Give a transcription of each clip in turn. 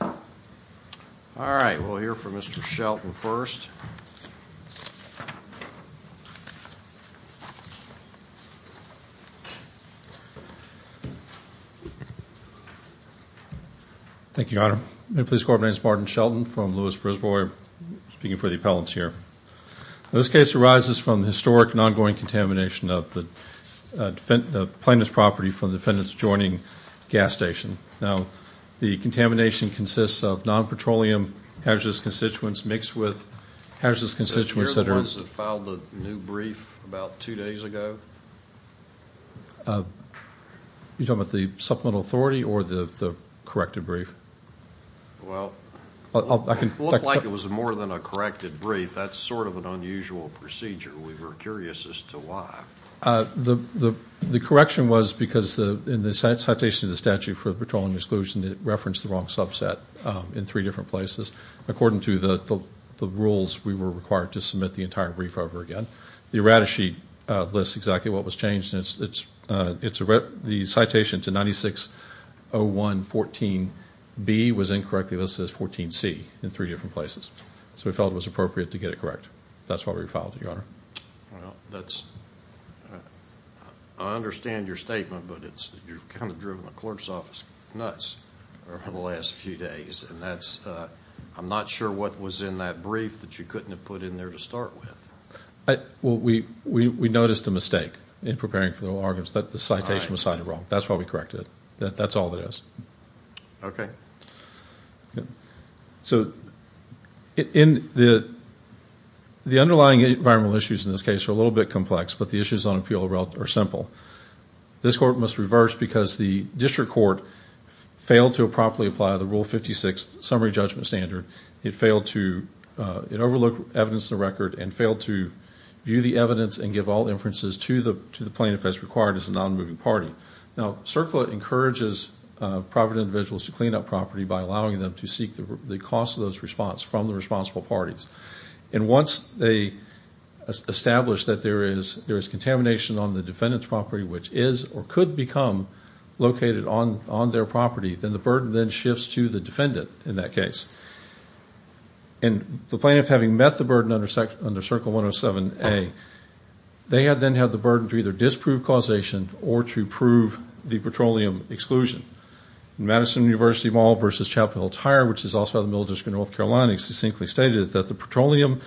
All right, we'll hear from Mr. Shelton first Thank you, I don't know please coordinates Martin Shelton from Lewis Brisbois speaking for the appellants here this case arises from the historic and ongoing contamination of the Defendant plaintiff's property from the defendants joining gas station now the contamination consists of non-petroleum hazardous constituents mixed with hazardous constituents You don't want the supplemental authority or the corrected brief Well, I can look like it was more than a corrected brief. That's sort of an unusual procedure. We were curious as to why The the the correction was because the in the citation of the statute for petroleum exclusion it referenced the wrong subset In three different places according to the the rules we were required to submit the entire brief over again the errata sheet Lists exactly what was changed. It's it's it's a rip the citation to ninety six 0114 B was incorrectly listed as 14 C in three different places. So we felt it was appropriate to get it, correct That's why we filed it your honor I understand your statement, but it's you've kind of driven the clerk's office nuts over the last few days and that's I'm not sure what was in that brief that you couldn't have put in there to start with Well, we we noticed a mistake in preparing for the arguments that the citation was cited wrong. That's why we corrected it That that's all that is Okay So in the The underlying environmental issues in this case are a little bit complex, but the issues on appeal route are simple This court must reverse because the district court failed to appropriately apply the rule 56 summary judgment standard it failed to it overlooked evidence the record and failed to View the evidence and give all inferences to the to the plaintiff as required as a non-moving party now circle it encourages private individuals to clean up property by allowing them to seek the cost of those response from the responsible parties and once they Established that there is there is contamination on the defendant's property, which is or could become Located on on their property. Then the burden then shifts to the defendant in that case and the plaintiff having met the burden under section under circle 107 a They have then had the burden to either disprove causation or to prove the petroleum exclusion Madison University Mall versus Chapel Hill tire, which is also the middle district, North Carolina Succinctly stated that the petroleum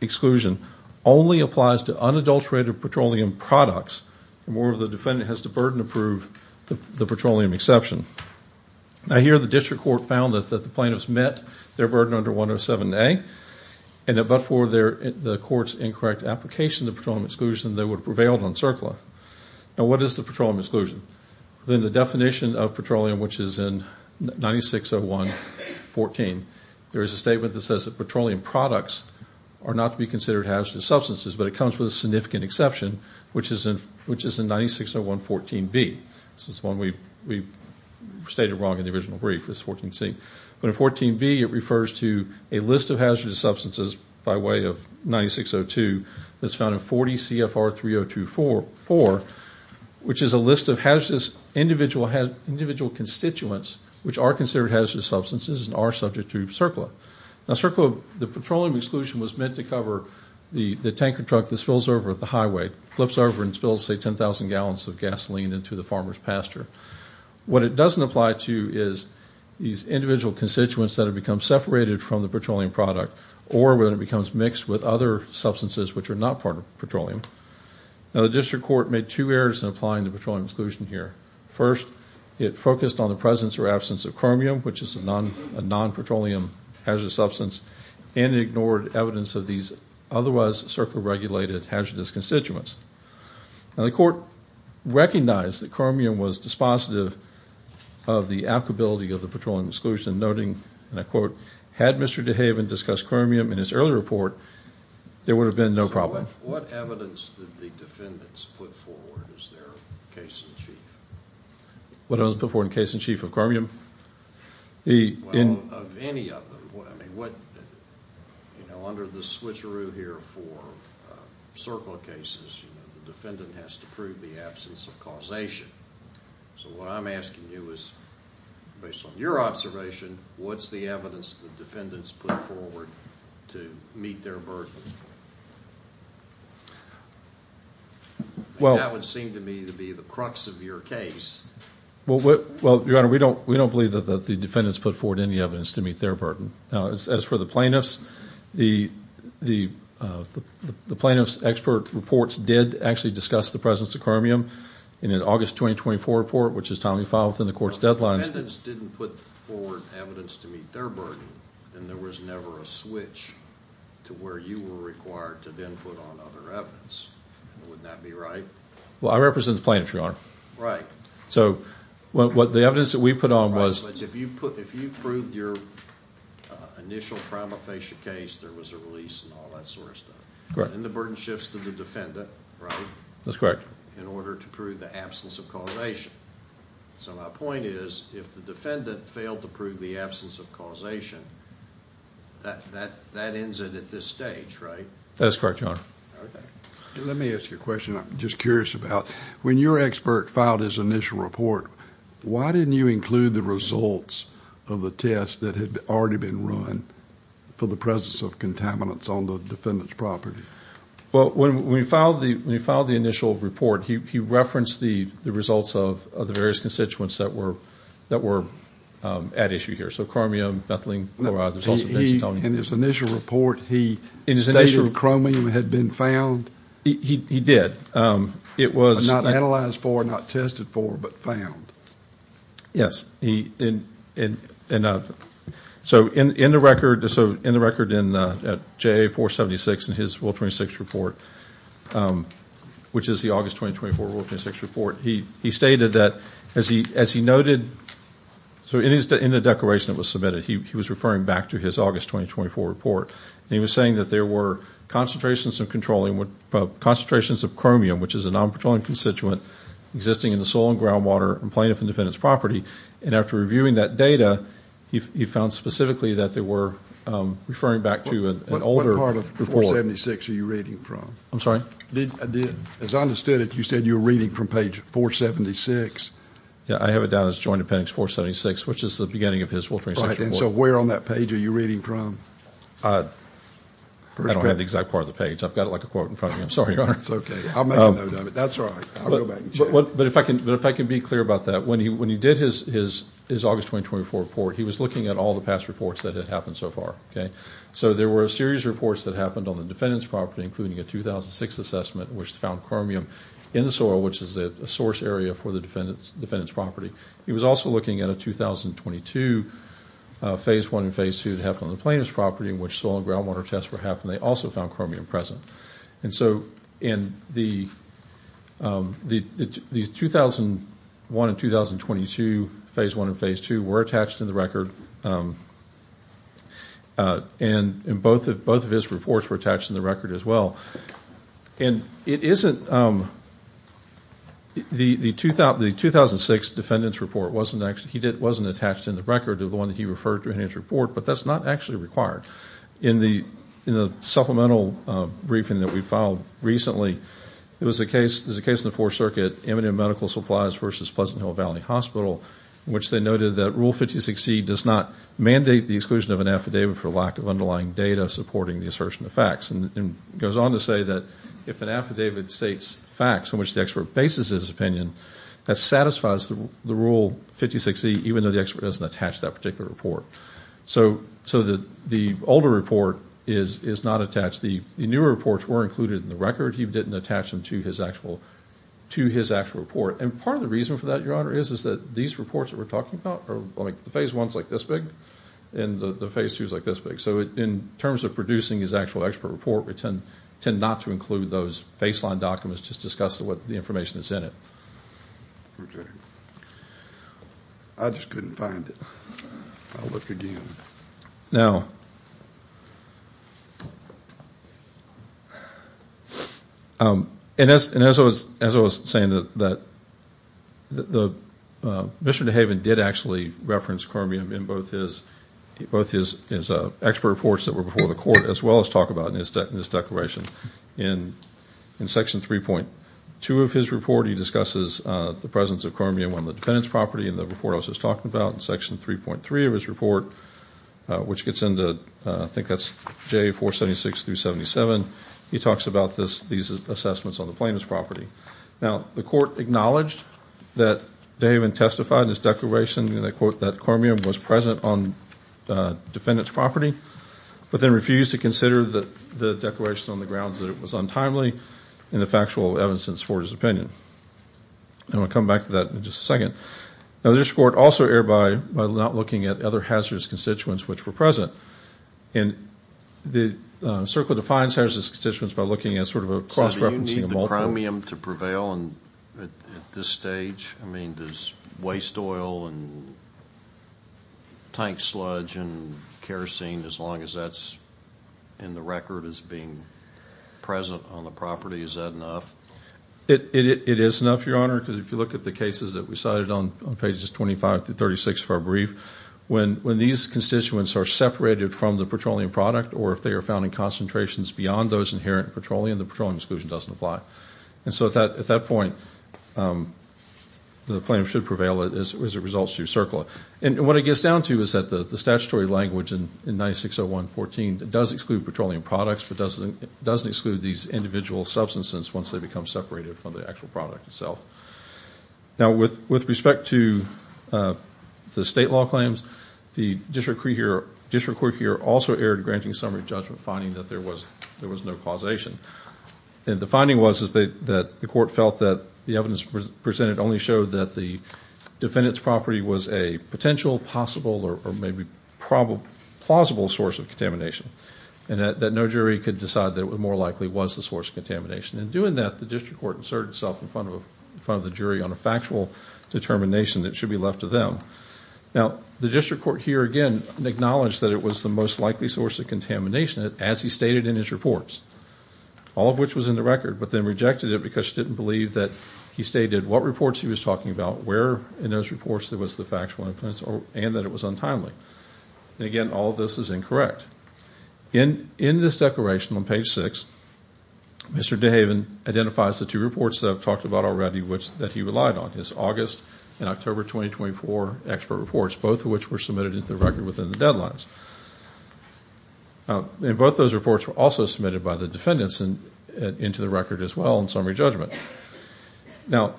Exclusion only applies to unadulterated petroleum products more of the defendant has to burden approve the petroleum exception Now here the district court found that the plaintiffs met their burden under 107 a and it but for their the court's incorrect Application the petroleum exclusion they would prevailed on circle now. What is the petroleum exclusion then the definition of petroleum which is in 9601 14 there is a statement that says that petroleum products are not to be considered hazardous substances But it comes with a significant exception, which is in which is in 9601 14 B. This is one we we Stated wrong in the original brief is 14 C But in 14 B it refers to a list of hazardous substances by way of 9602 That's found in 40 CFR 3024 for Which is a list of hazardous individual had individual constituents Which are considered hazardous substances and are subject to circle a circle The petroleum exclusion was meant to cover The the tanker truck that spills over at the highway flips over and spills say 10,000 gallons of gasoline into the farmers pasture what it doesn't apply to is these individual constituents that have become separated from the petroleum product or when it becomes mixed with other Substances which are not part of petroleum Now the district court made two errors in applying the petroleum exclusion here first It focused on the presence or absence of chromium Which is a non a non petroleum hazardous substance and ignored evidence of these otherwise circle regulated hazardous constituents now the court recognized that chromium was dispositive of The applicability of the petroleum exclusion noting and I quote had mr. DeHaven discussed chromium in his earlier report There would have been no problem What I was before in case in chief of chromium I'm asking you is Your observation, what's the evidence the defendants put forward to meet their burden? Well, I would seem to me to be the crux of your case Well, what well your honor, we don't we don't believe that the defendants put forward any evidence to meet their burden now as for the plaintiffs the the Plaintiffs expert reports did actually discuss the presence of chromium in an August 2024 report Which is time you follow within the court's deadlines Well, I represent the plaintiff your honor, right so what the evidence that we put on was if you put if you proved your Initial prima facie case there was a release and all that sort of stuff. Correct and the burden shifts to the defendant Right, that's correct in order to prove the absence of causation So my point is if the defendant failed to prove the absence of causation That that that ends it at this stage, right? That's correct, your honor Let me ask you a question. I'm just curious about when your expert filed his initial report Why didn't you include the results of the test that had already been run? For the presence of contaminants on the defendants property Well when we filed the we filed the initial report He referenced the the results of the various constituents that were that were at issue here. So chromium nothing In his initial report. He in his initial chromium had been found He did it was not analyzed for not tested for but found yes, he in and So in in the record so in the record in at JA 476 and his will 26 report Which is the August 2024 will 26 report. He he stated that as he as he noted So it is the in the declaration that was submitted. He was referring back to his August 2024 report He was saying that there were concentrations of controlling what concentrations of chromium which is a non-patrolling constituent Existing in the soil and groundwater and plaintiff and defendants property and after reviewing that data he found specifically that they were Referring back to an older part of 476. Are you reading from? I'm sorry I did as I understood it you said you were reading from page 476 Yeah, I have it down as joint appendix 476, which is the beginning of his will. So we're on that page Are you reading from? I Don't have the exact part of the page. I've got it like a quote in front. I'm sorry. It's okay But if I can but if I can be clear about that when he when he did his his his August 2024 report He was looking at all the past reports that had happened so far Okay So there were a series reports that happened on the defendants property including a 2006 assessment which found chromium in the soil Which is a source area for the defendants defendants property. He was also looking at a 2022 Phase 1 and phase 2 to happen on the plaintiff's property in which soil and groundwater tests were happening they also found chromium present and so in the The 2001 and 2022 phase 1 and phase 2 were attached in the record And in both of both of his reports were attached in the record as well and it isn't The the tooth out the 2006 defendants report wasn't actually he did wasn't attached in the record of the one that he referred to in his Report, but that's not actually required in the in the supplemental briefing that we filed recently It was a case. There's a case in the fourth circuit imminent medical supplies versus Pleasant Hill Valley Hospital Which they noted that rule 50 succeed does not mandate the exclusion of an affidavit for lack of underlying data Supporting the assertion of facts and goes on to say that if an affidavit states facts in which the expert basis is opinion That satisfies the rule 50 60 even though the expert doesn't attach that particular report So so that the older report is is not attached. The new reports were included in the record He didn't attach them to his actual to his actual report and part of the reason for that your honor is is that these reports that we're talking about or like The phase ones like this big and the phase two is like this big So it in terms of producing his actual expert report return tend not to include those baseline documents. Just discuss what the information is in it I Just couldn't find it Now And as and as I was as I was saying that that the Mr. Haven did actually reference chromium in both his Both his is a expert reports that were before the court as well as talk about in his deck in this declaration in in section 3.2 of his report he discusses the presence of chromium on the defendants property and the report I was just talking about in section 3.3 of his report Which gets into I think that's J 476 377 he talks about this these assessments on the plaintiff's property Now the court acknowledged that they even testified in this declaration. They quote that chromium was present on defendants property But then refused to consider that the declaration on the grounds that it was untimely in the factual Evanson supporters opinion And we'll come back to that in just a second now this court also air by not looking at other hazardous constituents which were present in the circle defines hazardous constituents by looking at sort of a cross-referencing the Chromium to prevail and at this stage. I mean this waste oil and Tank sludge and kerosene as long as that's in the record as being Present on the property is that enough it is enough your honor because if you look at the cases that we cited on pages 25 to 36 for a brief when when these Constituents are separated from the petroleum product or if they are found in concentrations beyond those inherent petroleum The petroleum exclusion doesn't apply and so that at that point The plaintiff should prevail it as it results to circle and what it gets down to is that the the statutory language in 9601 14 that does exclude petroleum products But doesn't it doesn't exclude these individual substances once they become separated from the actual product itself now with with respect to The state law claims the district career district court here also aired granting summary judgment finding that there was there was no causation and the finding was is that the court felt that the evidence presented only showed that the Defendant's property was a potential possible or maybe probable plausible source of contamination and that that no jury could decide that it was more likely was the source of Contamination and doing that the district court inserted itself in front of front of the jury on a factual Determination that should be left to them Now the district court here again acknowledged that it was the most likely source of contamination as he stated in his reports All of which was in the record But then rejected it because she didn't believe that he stated what reports he was talking about where in those reports There was the factual influence or and that it was untimely Again, all of this is incorrect In in this declaration on page 6 Mr. Daven identifies the two reports that I've talked about already which that he relied on his August and October 2024 expert reports both of which were submitted into the record within the deadlines Now both those reports were also submitted by the defendants and into the record as well in summary judgment now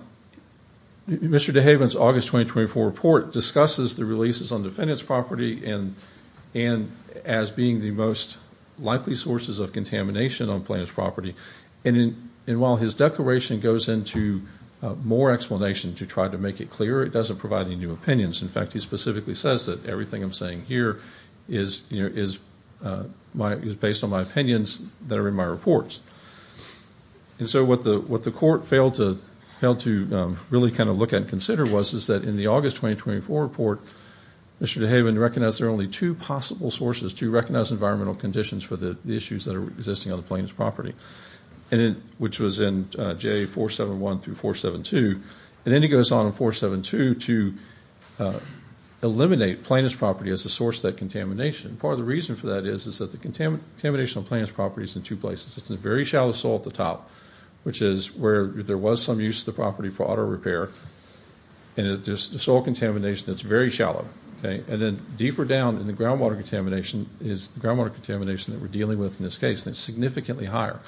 Mr. Daven's August 2024 report discusses the releases on defendants property and and as being the most likely sources of contamination on plaintiff's property and in and while his declaration goes into More explanation to try to make it clear. It doesn't provide any new opinions in fact, he specifically says that everything I'm saying here is you know is My is based on my opinions that are in my reports And so what the what the court failed to failed to really kind of look at consider was is that in the August 2024 report? Mr. De Haven recognized there are only two possible sources to recognize environmental conditions for the issues that are existing on the plaintiff's property and in which was in J 471 through 472 and then he goes on in 472 to Eliminate plaintiff's property as a source that contamination part of the reason for that is is that the Contamination on plaintiff's properties in two places. It's a very shallow soil at the top Which is where there was some use of the property for auto repair and if there's the soil contamination, it's very shallow Okay And then deeper down in the groundwater contamination is groundwater contamination that we're dealing with in this case and it's significantly higher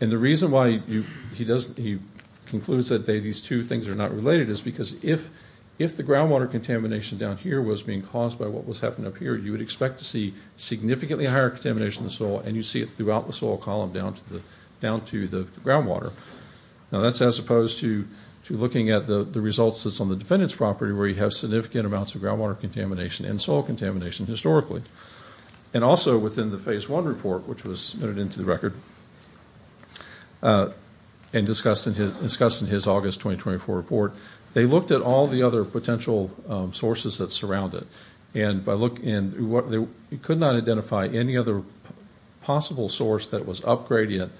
and the reason why you he doesn't he Concludes that they these two things are not related is because if if the groundwater contamination Down here was being caused by what was happening up here You would expect to see significantly higher contamination the soil and you see it throughout the soil column down to the down to the groundwater Now that's as opposed to to looking at the the results that's on the defendant's property where you have significant amounts of groundwater contamination and soil contamination historically and Also within the phase one report, which was noted into the record And Discussed in his discussed in his August 2024 report. They looked at all the other potential Sources that surround it and by look in what they could not identify any other Possible source that was up gradient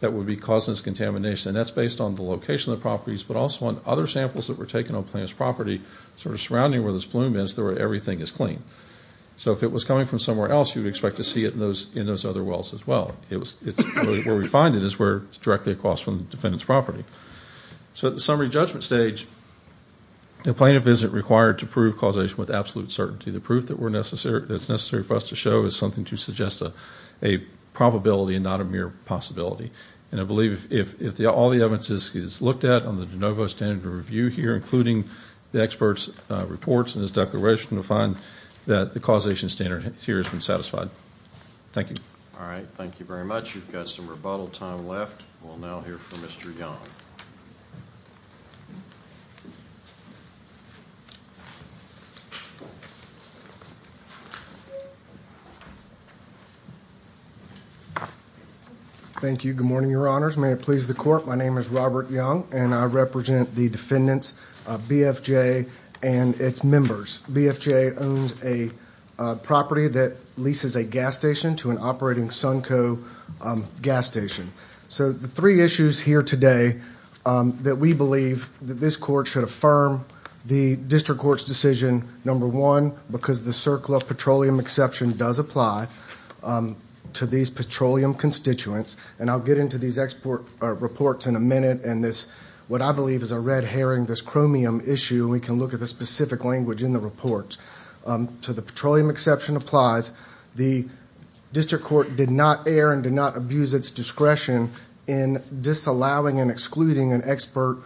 that would be causing this contamination that's based on the location of properties But also on other samples that were taken on plaintiff's property sort of surrounding where this bloom is there where everything is clean So if it was coming from somewhere else, you'd expect to see it in those in those other wells as well It was it's where we find it is where it's directly across from the defendants property so at the summary judgment stage the plaintiff isn't required to prove causation with absolute certainty the proof that we're necessary that's necessary for us to show is something to suggest a a Probability and not a mere possibility and I believe if all the evidence is looked at on the de novo standard review here Including the experts reports in this declaration to find that the causation standard here has been satisfied Thank you, all right, thank you very much. You've got some rebuttal time left. We'll now hear from mr. Young Thank you, good morning your honors may it please the court my name is Robert Young and I represent the defendants of BFJ and its members BFJ owns a Property that leases a gas station to an operating Sunco Gas station. So the three issues here today That we believe that this court should affirm the district courts decision number one because the circle of petroleum exception does apply to these petroleum Constituents and I'll get into these export Reports in a minute and this what I believe is a red herring this chromium issue We can look at the specific language in the report To the petroleum exception applies the District Court did not err and did not abuse its discretion in disallowing and excluding an expert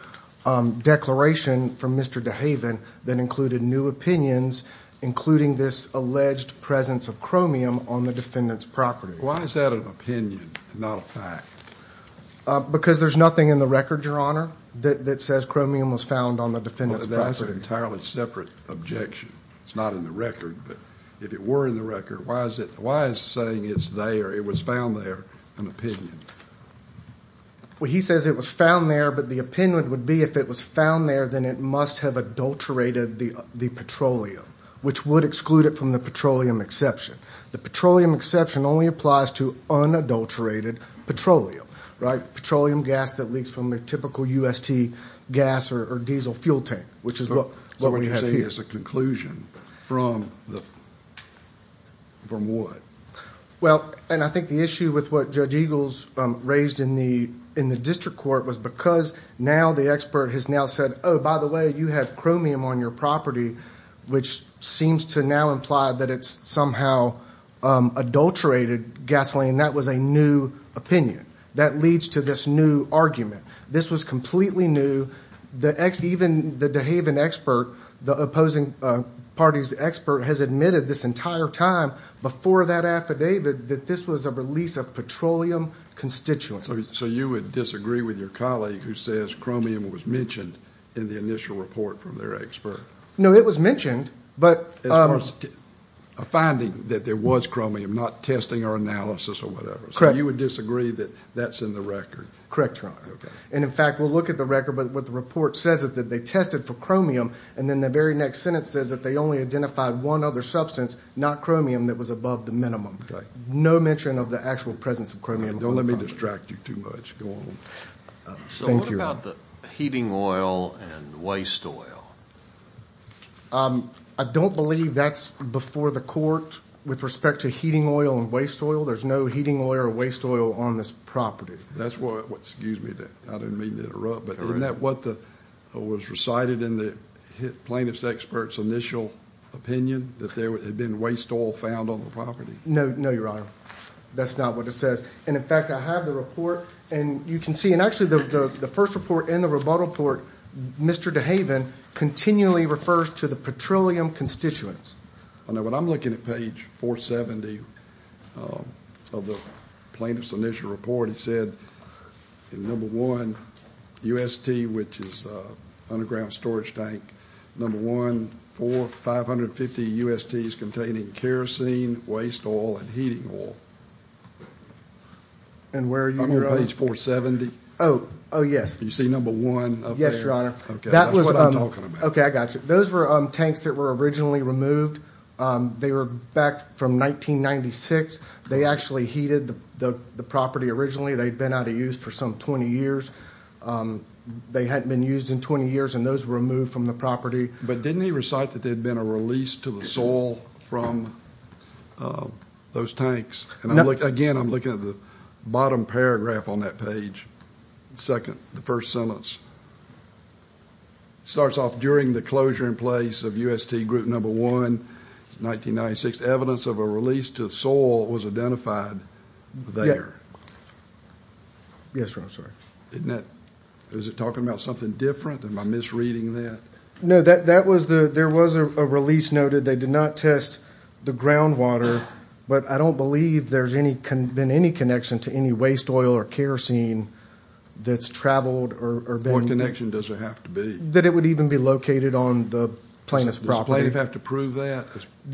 Declaration from mr. Dehaven that included new opinions Including this alleged presence of chromium on the defendants property. Why is that an opinion not a fact? Because there's nothing in the record your honor that says chromium was found on the defendant entirely separate objection It's not in the record, but if it were in the record, why is it? Why is saying it's there it was found there an opinion Well, he says it was found there But the opinion would be if it was found there then it must have adulterated the the petroleum Which would exclude it from the petroleum exception the petroleum exception only applies to unadulterated Petroleum right petroleum gas that leaks from their typical UST gas or diesel fuel tank, which is what we're saying as a conclusion from the From what? Well, and I think the issue with what judge Eagles raised in the in the district court was because now the expert has now said Oh, by the way, you have chromium on your property, which seems to now imply that it's somehow Adulterated gasoline that was a new opinion that leads to this new argument This was completely new the X even the de Haven expert the opposing Parties expert has admitted this entire time before that affidavit that this was a release of petroleum Constituent so you would disagree with your colleague who says chromium was mentioned in the initial report from their expert No, it was mentioned but Finding that there was chromium not testing or analysis or whatever You would disagree that that's in the record, correct, right? And in fact, we'll look at the record But what the report says is that they tested for chromium and then the very next sentence says that they only identified one other substance Not chromium that was above the minimum. Okay, no mention of the actual presence of chromium. Don't let me distract you too much Heating oil and waste oil I don't believe that's before the court with respect to heating oil and waste oil There's no heating oil or waste oil on this property. That's what what excuse me that I didn't mean to interrupt But that what the was recited in the plaintiff's experts initial Opinion that there had been waste oil found on the property. No, no, your honor. That's not what it says And in fact, I have the report and you can see and actually the first report in the rebuttal port Mr. De Haven Continually refers to the petroleum constituents. I know what I'm looking at page 470 Of the plaintiff's initial report. He said in number one UST which is underground storage tank number one for 550 UST is containing kerosene waste oil and heating oil And where you know page 470. Oh, oh, yes, you see number one. Yes, your honor Okay, I got you. Those were tanks that were originally removed They were back from 1996 they actually heated the the property originally they'd been out of use for some 20 years They hadn't been used in 20 years and those were removed from the property But didn't he recite that there'd been a release to the soil from? Those tanks and I look again, I'm looking at the bottom paragraph on that page second the first sentence It starts off during the closure in place of UST group number one 1996 evidence of a release to soil was identified there Yes, sir, I'm sorry, isn't that is it talking about something different and my misreading that no that that was the there was a Release noted they did not test the groundwater But I don't believe there's any can been any connection to any waste oil or kerosene That's traveled or more connection Does it have to be that it would even be located on the plaintiff's property have to prove that?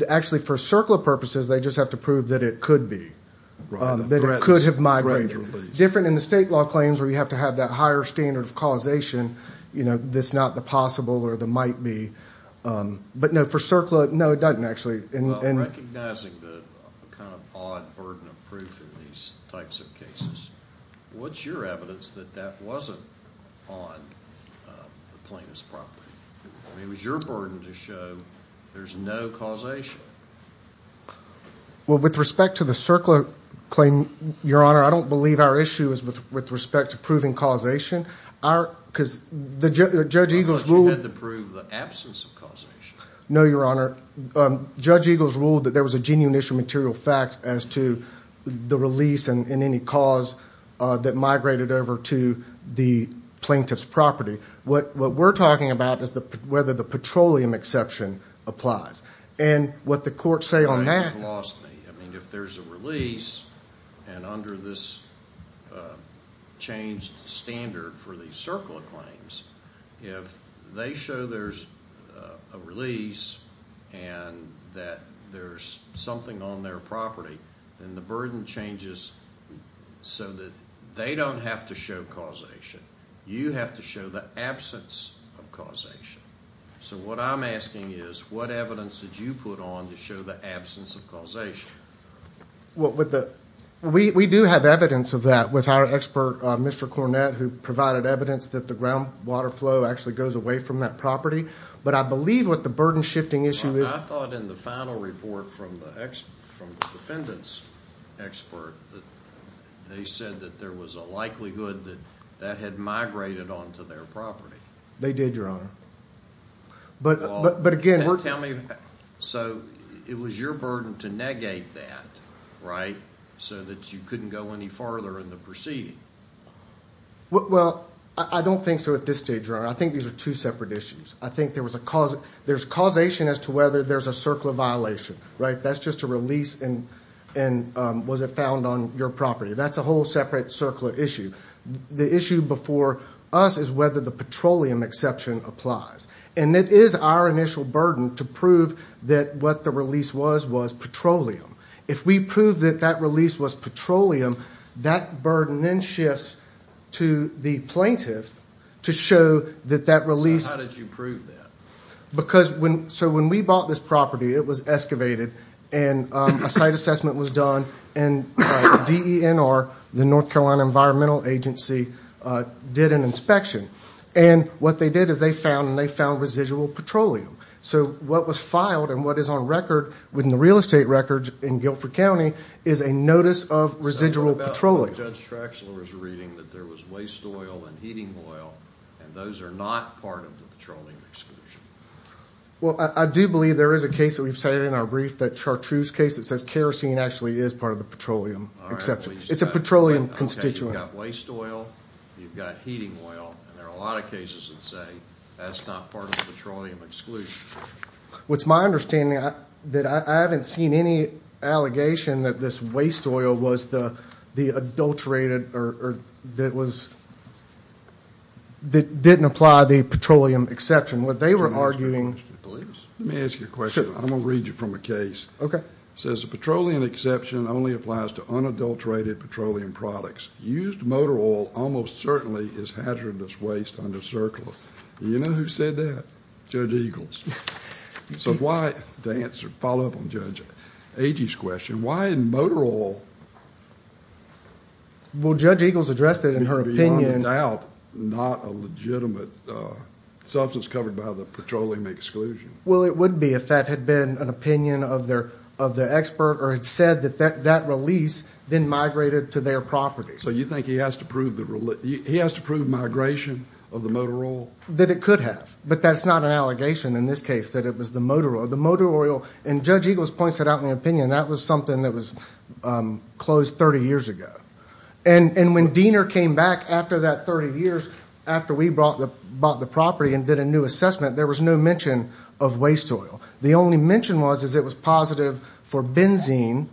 Actually for circular purposes. They just have to prove that it could be That it could have my range different in the state law claims where you have to have that higher standard of causation You know, that's not the possible or the might be But no for circular. No, it doesn't actually And recognizing the kind of odd burden of proof in these types of cases What's your evidence that that wasn't on? The plaintiff's property. It was your burden to show there's no causation Well with respect to the circular claim your honor I don't believe our issue is with with respect to proving causation our because the judge eagles rule had to prove the absence of No, your honor Judge eagles ruled that there was a genuine issue material fact as to the release and in any cause that migrated over to the Plaintiff's property what what we're talking about is the whether the petroleum exception applies and what the court say on that if there's a release and under this Changed standard for the circle of claims if they show there's a release That there's something on their property and the burden changes So that they don't have to show causation you have to show the absence of causation So what I'm asking is what evidence did you put on to show the absence of causation? What with the we do have evidence of that with our expert? Mr. Cornett who provided evidence that the groundwater flow actually goes away from that property But I believe what the burden shifting issue is I thought in the final report from the ex from the defendant's They said that there was a likelihood that that had migrated on to their property. They did your honor But but again tell me so it was your burden to negate that Right so that you couldn't go any farther in the proceeding What well I don't think so at this stage or I think these are two separate issues I think there was a cause there's causation as to whether there's a circle of violation, right? That's just a release and and was it found on your property? That's a whole separate circle of issue the issue before us is whether the petroleum exception applies And it is our initial burden to prove that what the release was was petroleum if we prove that that release was Petroleum that burden then shifts to the plaintiff to show that that release Because when so when we bought this property it was excavated and a site assessment was done and DNR the North Carolina Environmental Agency Did an inspection and what they did is they found and they found residual petroleum so what was filed and what is on record within the real estate records in Guilford County is a Notice of residual patrolling judge Traxler is reading that there was waste oil and heating oil and those are not part of the patrolling Well, I do believe there is a case that we've said in our brief that chartreuse case It says kerosene actually is part of the petroleum exception. It's a petroleum constituent waste oil You've got heating oil and there are a lot of cases that say that's not part of the petroleum exclusion What's my understanding that I haven't seen any? Allegation that this waste oil was the the adulterated or that was That didn't apply the petroleum exception what they were arguing Let me ask you a question. I'm gonna read you from a case Okay Says the petroleum exception only applies to unadulterated petroleum products used motor oil almost certainly is hazardous waste Under circular, you know who said that judge Eagles? So why the answer follow up on judge 80s question why in motor oil Will judge Eagles addressed it in her opinion doubt not a legitimate substance covered by the petroleum exclusion Well, it would be if that had been an opinion of their of the expert or it said that that that release Then migrated to their property So you think he has to prove the rule it he has to prove migration of the motor oil that it could have but that's not Allegation in this case that it was the motor or the motor oil and judge Eagles points it out in the opinion that was something that was closed 30 years ago and And when Diener came back after that 30 years after we brought the bought the property and did a new assessment There was no mention of waste oil. The only mention was is it was positive for benzene?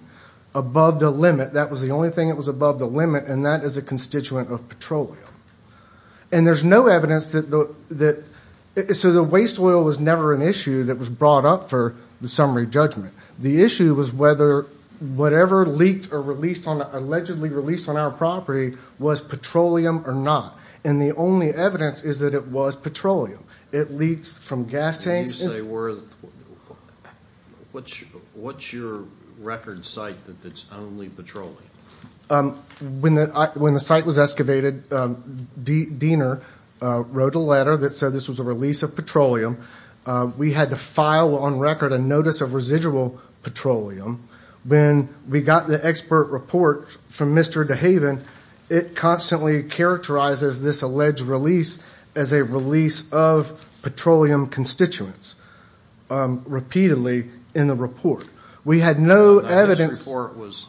Above the limit. That was the only thing that was above the limit and that is a constituent of petroleum and There's no evidence that though that So the waste oil was never an issue that was brought up for the summary judgment. The issue was whether Whatever leaked or released on allegedly released on our property was petroleum or not And the only evidence is that it was petroleum it leaks from gas tanks. They were What's what's your record site that that's only petroleum When the when the site was excavated D Diener Wrote a letter that said this was a release of petroleum We had to file on record a notice of residual petroleum when we got the expert report from mr. De Haven it constantly characterizes this alleged release as a release of petroleum constituents Repeatedly in the report we had no evidence This report was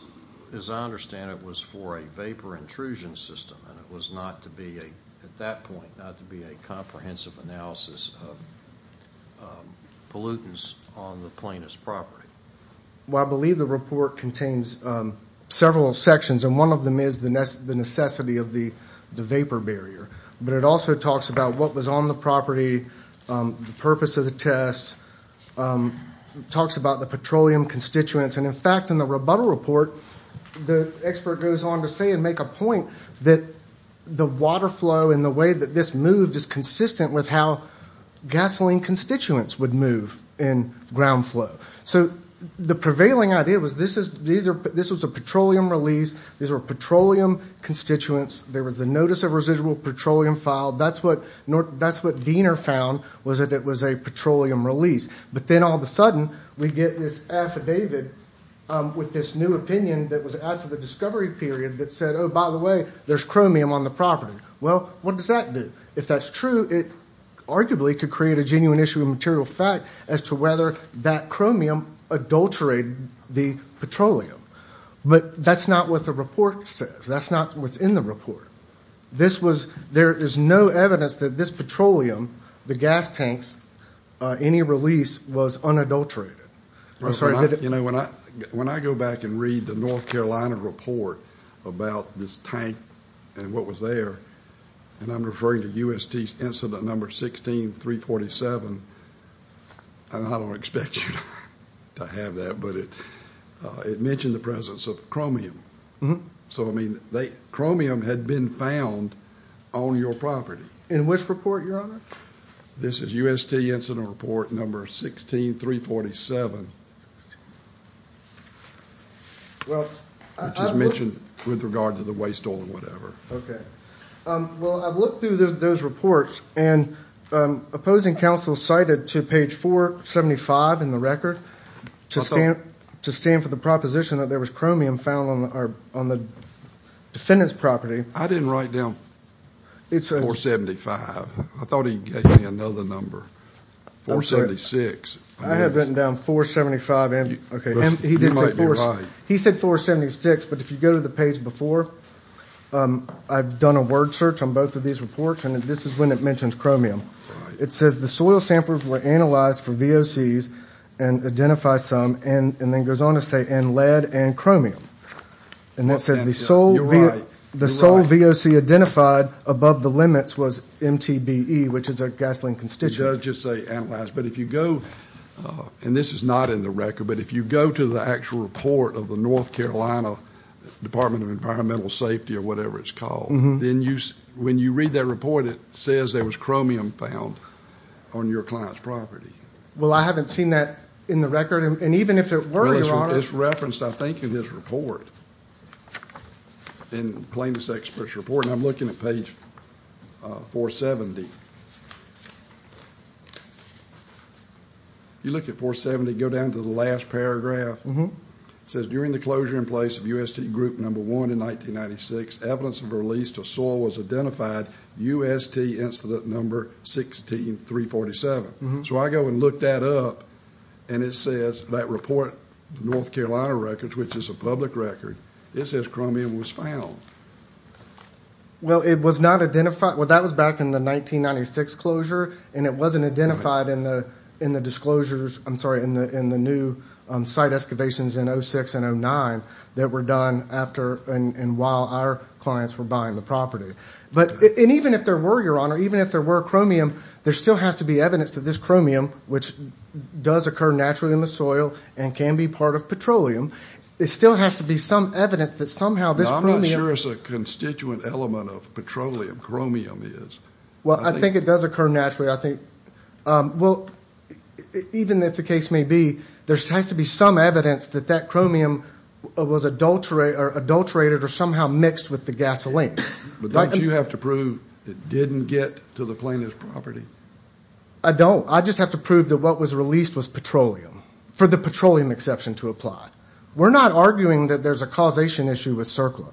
as I understand it was for a vapor intrusion system And it was not to be a at that point not to be a comprehensive analysis Pollutants on the plaintiff's property Well, I believe the report contains Several sections and one of them is the nest the necessity of the the vapor barrier, but it also talks about what was on the property the purpose of the test Talks about the petroleum constituents and in fact in the rebuttal report the expert goes on to say and make a point that the water flow and the way that this moved is consistent with how Gasoline constituents would move in ground flow. So the prevailing idea was this is these are but this was a petroleum release These are petroleum Constituents there was the notice of residual petroleum filed. That's what nor that's what Diener found Was that it was a petroleum release, but then all of a sudden we get this affidavit With this new opinion that was after the discovery period that said, oh, by the way, there's chromium on the property Well, what does that do if that's true? It arguably could create a genuine issue of material fact as to whether that chromium Adulterated the petroleum, but that's not what the report says. That's not what's in the report This was there is no evidence that this petroleum the gas tanks Any release was unadulterated Sorry, you know when I when I go back and read the North Carolina report about this tank and what was there? And I'm referring to UST incident number 16 347 And I don't expect to have that but it It mentioned the presence of chromium. Mm-hmm. So I mean they chromium had been found on your property in which report You're on it. This is UST incident report number 16 347 Well, I mentioned with regard to the waste oil or whatever, okay well, I've looked through those reports and opposing counsel cited to page 4 75 in the record to stand to stand for the proposition that there was chromium found on our on the Defendants property. I didn't write down It's a 475. I thought he gave me another number 476 I have written down 475 and okay He said 476, but if you go to the page before I've done a word search on both of these reports and this is when it mentions chromium it says the soil samplers were analyzed for VOC's and Identify some and and then goes on to say and lead and chromium and that says the sole The sole VOC identified above the limits was MTBE, which is a gasoline constituent just say analyzed But if you go And this is not in the record, but if you go to the actual report of the North Carolina Department of Environmental Safety or whatever it's called. Then you when you read that report it says there was chromium found On your client's property. Well, I haven't seen that in the record and even if it were it's referenced. I think in his report In plaintiff's experts report and I'm looking at page 470 You look at 470 go down to the last paragraph Mm-hmm says during the closure in place of UST group number one in 1996 evidence of release to soil was identified UST incident number 16347 so I go and look that up and it says that report North Carolina records Which is a public record. It says chromium was found Well, it was not identified well that was back in the 1996 closure and it wasn't identified in the in the disclosures I'm sorry in the in the new Site excavations in 06 and 09 that were done after and while our clients were buying the property but and even if there were your honor, even if there were chromium there still has to be evidence that this chromium which Does occur naturally in the soil and can be part of petroleum It still has to be some evidence that somehow this really is a constituent element of petroleum chromium is Well, I think it does occur naturally. I think well Even if the case may be there's has to be some evidence that that chromium Was adulterated or adulterated or somehow mixed with the gasoline But don't you have to prove it didn't get to the plaintiff's property. I Don't I just have to prove that what was released was petroleum for the petroleum exception to apply We're not arguing that there's a causation issue with circle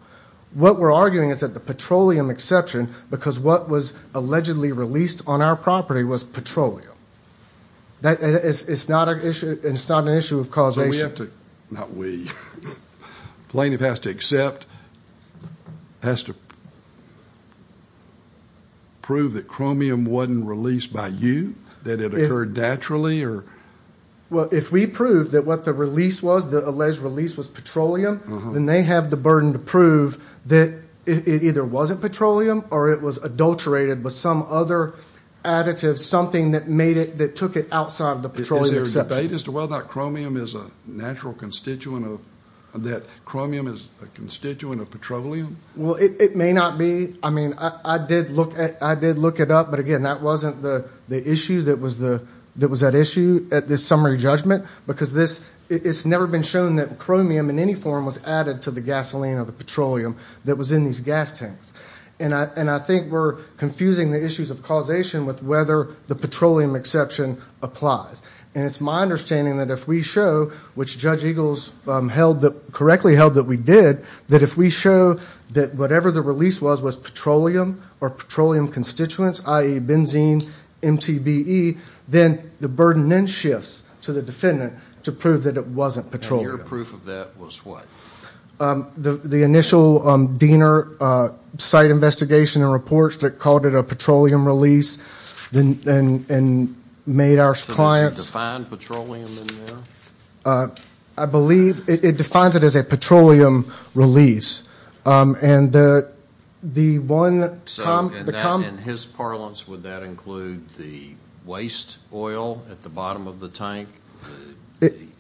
What we're arguing is that the petroleum exception because what was allegedly released on our property was petroleum That is it's not an issue. It's not an issue of causation Not we plaintiff has to accept has to Prove that chromium wasn't released by you that it occurred naturally or Well, if we prove that what the release was the alleged release was petroleum Then they have the burden to prove that it either wasn't petroleum or it was adulterated with some other Additive something that made it that took it outside of the petroleum except they just well that chromium is a natural constituent of That chromium is a constituent of petroleum. Well, it may not be I mean I did look at I did look it up but again that wasn't the the issue that was the that was that issue at this summary judgment because this It's never been shown that chromium in any form was added to the gasoline or the petroleum That was in these gas tanks and I and I think we're confusing the issues of causation with whether the petroleum exception Applies and it's my understanding that if we show which judge Eagles Held that correctly held that we did that if we show that whatever the release was was petroleum or petroleum constituents ie benzene MTBE then the burden then shifts to the defendant to prove that it wasn't petroleum proof of that was what? The the initial Diener Site investigation and reports that called it a petroleum release then and and made our clients I believe it defines it as a petroleum release and the the one His parlance would that include the waste oil at the bottom of the tank?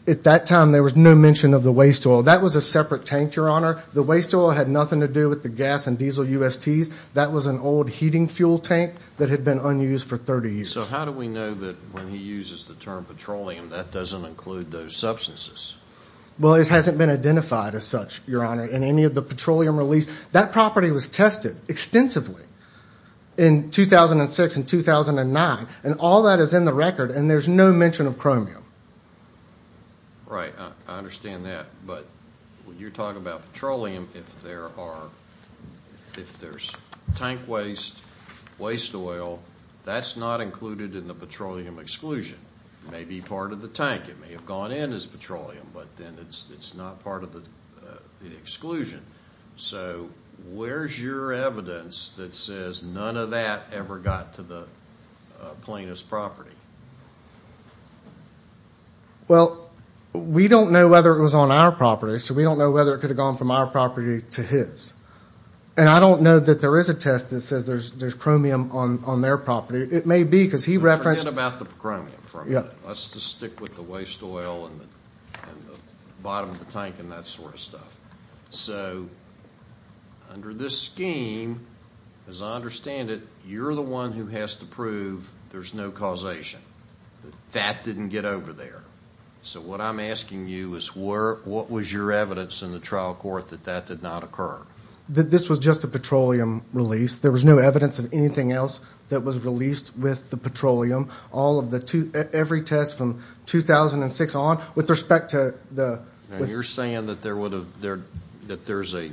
At that time there was no mention of the waste oil that was a separate tank your honor the waste oil had nothing to do With the gas and diesel UST's that was an old heating fuel tank that had been unused for 30 years So, how do we know that when he uses the term petroleum that doesn't include those substances? Well, it hasn't been identified as such your honor in any of the petroleum release that property was tested extensively in 2006 and 2009 and all that is in the record and there's no mention of chromium All right. I understand that but when you're talking about petroleum if there are If there's tank waste Waste oil that's not included in the petroleum exclusion. It may be part of the tank it may have gone in as petroleum, but then it's it's not part of the exclusion so where's your evidence that says none of that ever got to the plaintiff's property Well, we don't know whether it was on our property so we don't know whether it could have gone from our property to his And I don't know that there is a test that says there's there's chromium on on their property It may be because he referenced about the chromium from yeah Let's just stick with the waste oil and the bottom of the tank and that sort of stuff. So Under this scheme as I understand it. You're the one who has to prove there's no causation That didn't get over there So what I'm asking you is where what was your evidence in the trial court that that did not occur? That this was just a petroleum release there was no evidence of anything else that was released with the petroleum all of the two every test from 2006 on with respect to the you're saying that there would have there that there's a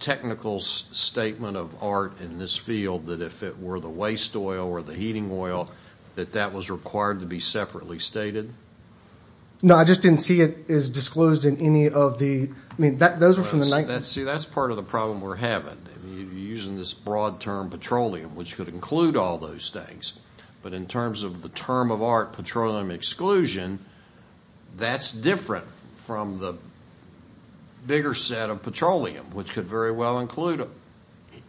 Technical statement of art in this field that if it were the waste oil or the heating oil That that was required to be separately stated No, I just didn't see it is disclosed in any of the I mean that those are from the night Let's see. That's part of the problem. We're having Using this broad term petroleum which could include all those things but in terms of the term of art petroleum exclusion that's different from the Bigger set of petroleum which could very well include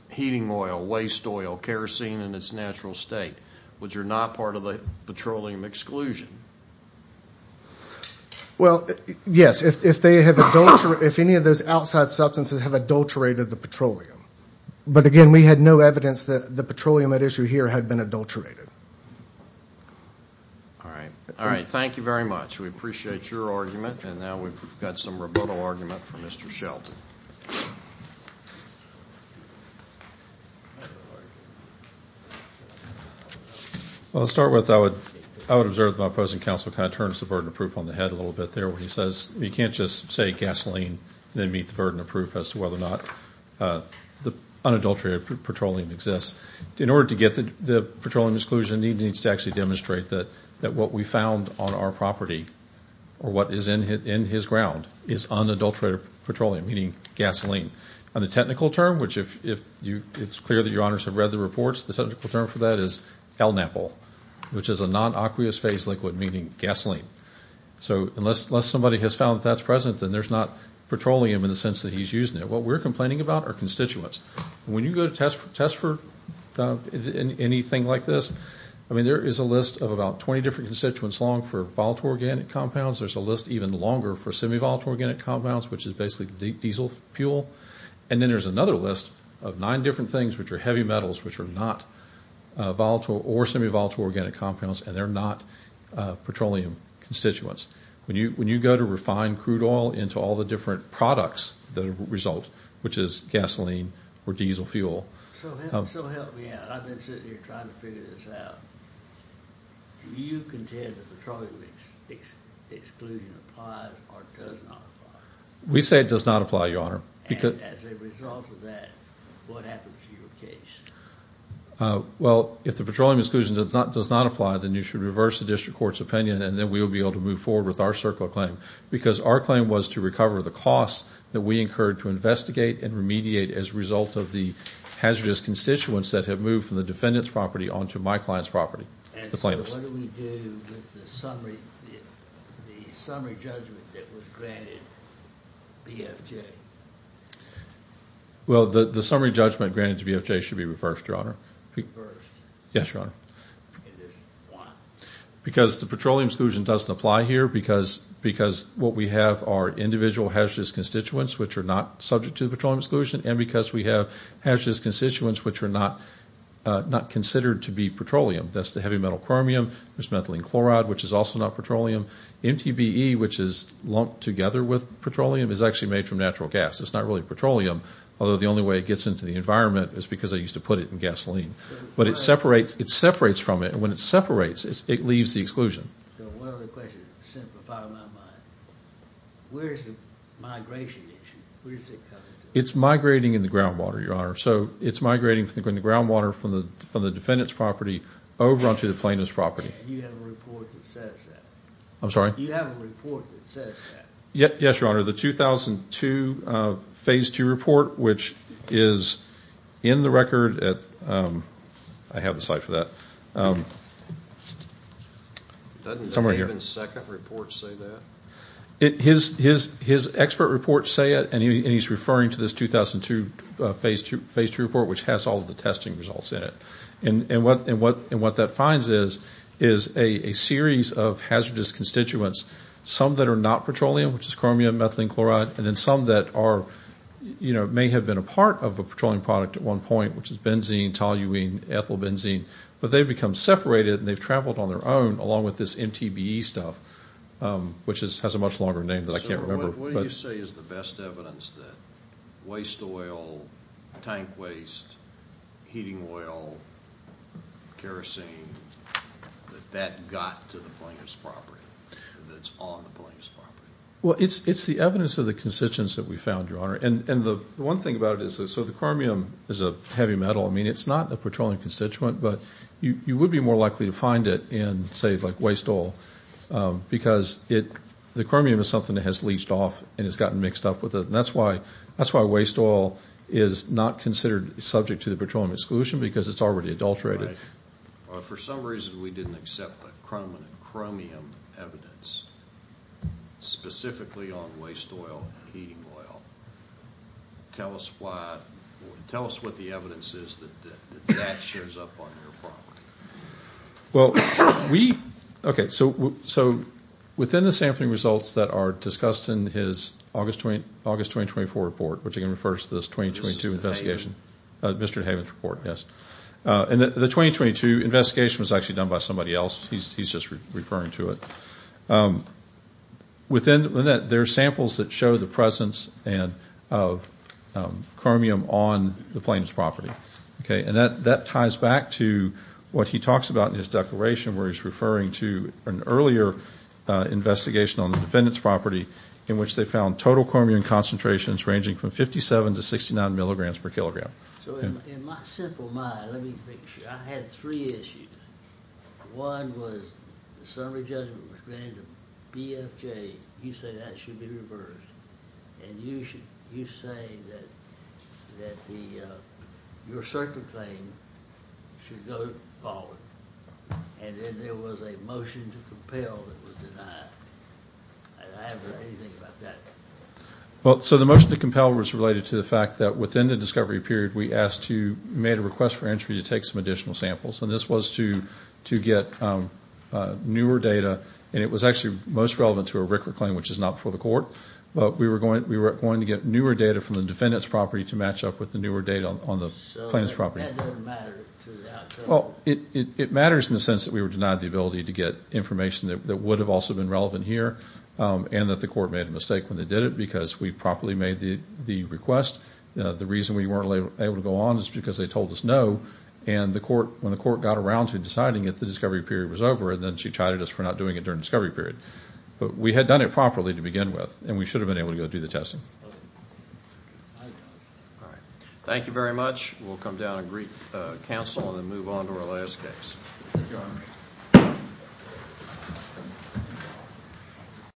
Heating oil waste oil kerosene in its natural state, which are not part of the petroleum exclusion Well, yes if they have a daughter if any of those outside substances have adulterated the petroleum But again, we had no evidence that the petroleum at issue here had been adulterated All right, all right, thank you very much we appreciate your argument and now we've got some rebuttal argument for mr. Shelton Well, let's start with I would I would observe the opposing council kind of turns the burden of proof on the head a little bit There where he says you can't just say gasoline then meet the burden of proof as to whether or not The unadulterated petroleum exists in order to get the the petroleum exclusion He needs to actually demonstrate that that what we found on our property or what is in hit in his ground is unadulterated Petroleum meaning gasoline on the technical term Which if you it's clear that your honors have read the reports the technical term for that is El Napo Which is a non aqueous phase liquid meaning gasoline So unless unless somebody has found that's present then there's not Petroleum in the sense that he's using it. What we're complaining about our constituents when you go to test for test for Anything like this. I mean there is a list of about 20 different constituents long for volatile organic compounds There's a list even longer for semi volatile organic compounds, which is basically diesel fuel And then there's another list of nine different things which are heavy metals, which are not volatile or semi volatile organic compounds and they're not Petroleum constituents when you when you go to refine crude oil into all the different products that result which is gasoline or diesel fuel We say it does not apply your honor Because Well, if the petroleum exclusion does not does not apply then you should reverse the district courts opinion And then we will be able to move forward with our circle claim because our claim was to recover the costs that we incurred to investigate and remediate as a result of the Hazardous constituents that have moved from the defendants property on to my clients property Well the the summary judgment granted to be FJ should be reversed your honor Yes, your honor Because the petroleum exclusion doesn't apply here because because what we have are individual hazardous constituents Which are not subject to the petroleum exclusion and because we have hazardous constituents, which are not Not considered to be petroleum. That's the heavy metal chromium. There's methylene chloride, which is also not petroleum MTBE which is lumped together with petroleum is actually made from natural gas It's not really petroleum Although the only way it gets into the environment is because I used to put it in gasoline But it separates it separates from it and when it separates it leaves the exclusion It's migrating in the groundwater your honor, so it's migrating from the ground water from the from the defendants property over onto the plaintiff's property I'm sorry Yes, your honor the 2002 phase 2 report, which is in the record at I have the site for that His his his expert reports say it and he's referring to this 2002 Phase 2 phase 2 report which has all of the testing results in it And what and what and what that finds is is a series of hazardous constituents Some that are not petroleum, which is chromium methylene chloride and then some that are You know may have been a part of a petroleum product at one point, which is benzene toluene ethyl benzene But they've become separated and they've traveled on their own along with this MTBE stuff Which is has a much longer name Waste oil tank waste Heating oil Kerosene That got to the plaintiff's property Well, it's it's the evidence of the constituents that we found your honor and and the one thing about it Is so the chromium is a heavy metal I mean, it's not a petroleum constituent, but you you would be more likely to find it in say like waste all Because it the chromium is something that has leached off and it's gotten mixed up with it That's why that's why waste oil is not considered subject to the petroleum exclusion because it's already adulterated For some reason we didn't accept the chromium evidence Specifically on waste oil Tell us why tell us what the evidence is Well, we okay so so Within the sampling results that are discussed in his August 20 August 2024 report, which again refers to this 2022 investigation Mr. Havens report. Yes And the 2022 investigation was actually done by somebody else. He's just referring to it Within that there are samples that show the presence and of Chromium on the plaintiff's property. Okay, and that that ties back to What he talks about in his declaration where he's referring to an earlier Investigation on the defendant's property in which they found total chromium concentrations ranging from 57 to 69 milligrams per kilogram One was You say that should be reversed and you should you say that The your circuit claim Well, so the motion to compel was related to the fact that within the discovery period we asked you made a request for entry to take some additional samples and this was to to get Newer data and it was actually most relevant to a Rickler claim, which is not before the court But we were going we were going to get newer data from the defendant's property to match up with the newer data on the plaintiff's property Well, it it matters in the sense that we were denied the ability to get information that would have also been relevant here And that the court made a mistake when they did it because we properly made the the request The reason we weren't able to go on is because they told us no and the court when the court got around to deciding it The discovery period was over and then she chided us for not doing it during discovery period But we had done it properly to begin with and we should have been able to go do the testing Thank you very much, we'll come down and greet counsel and then move on to our last case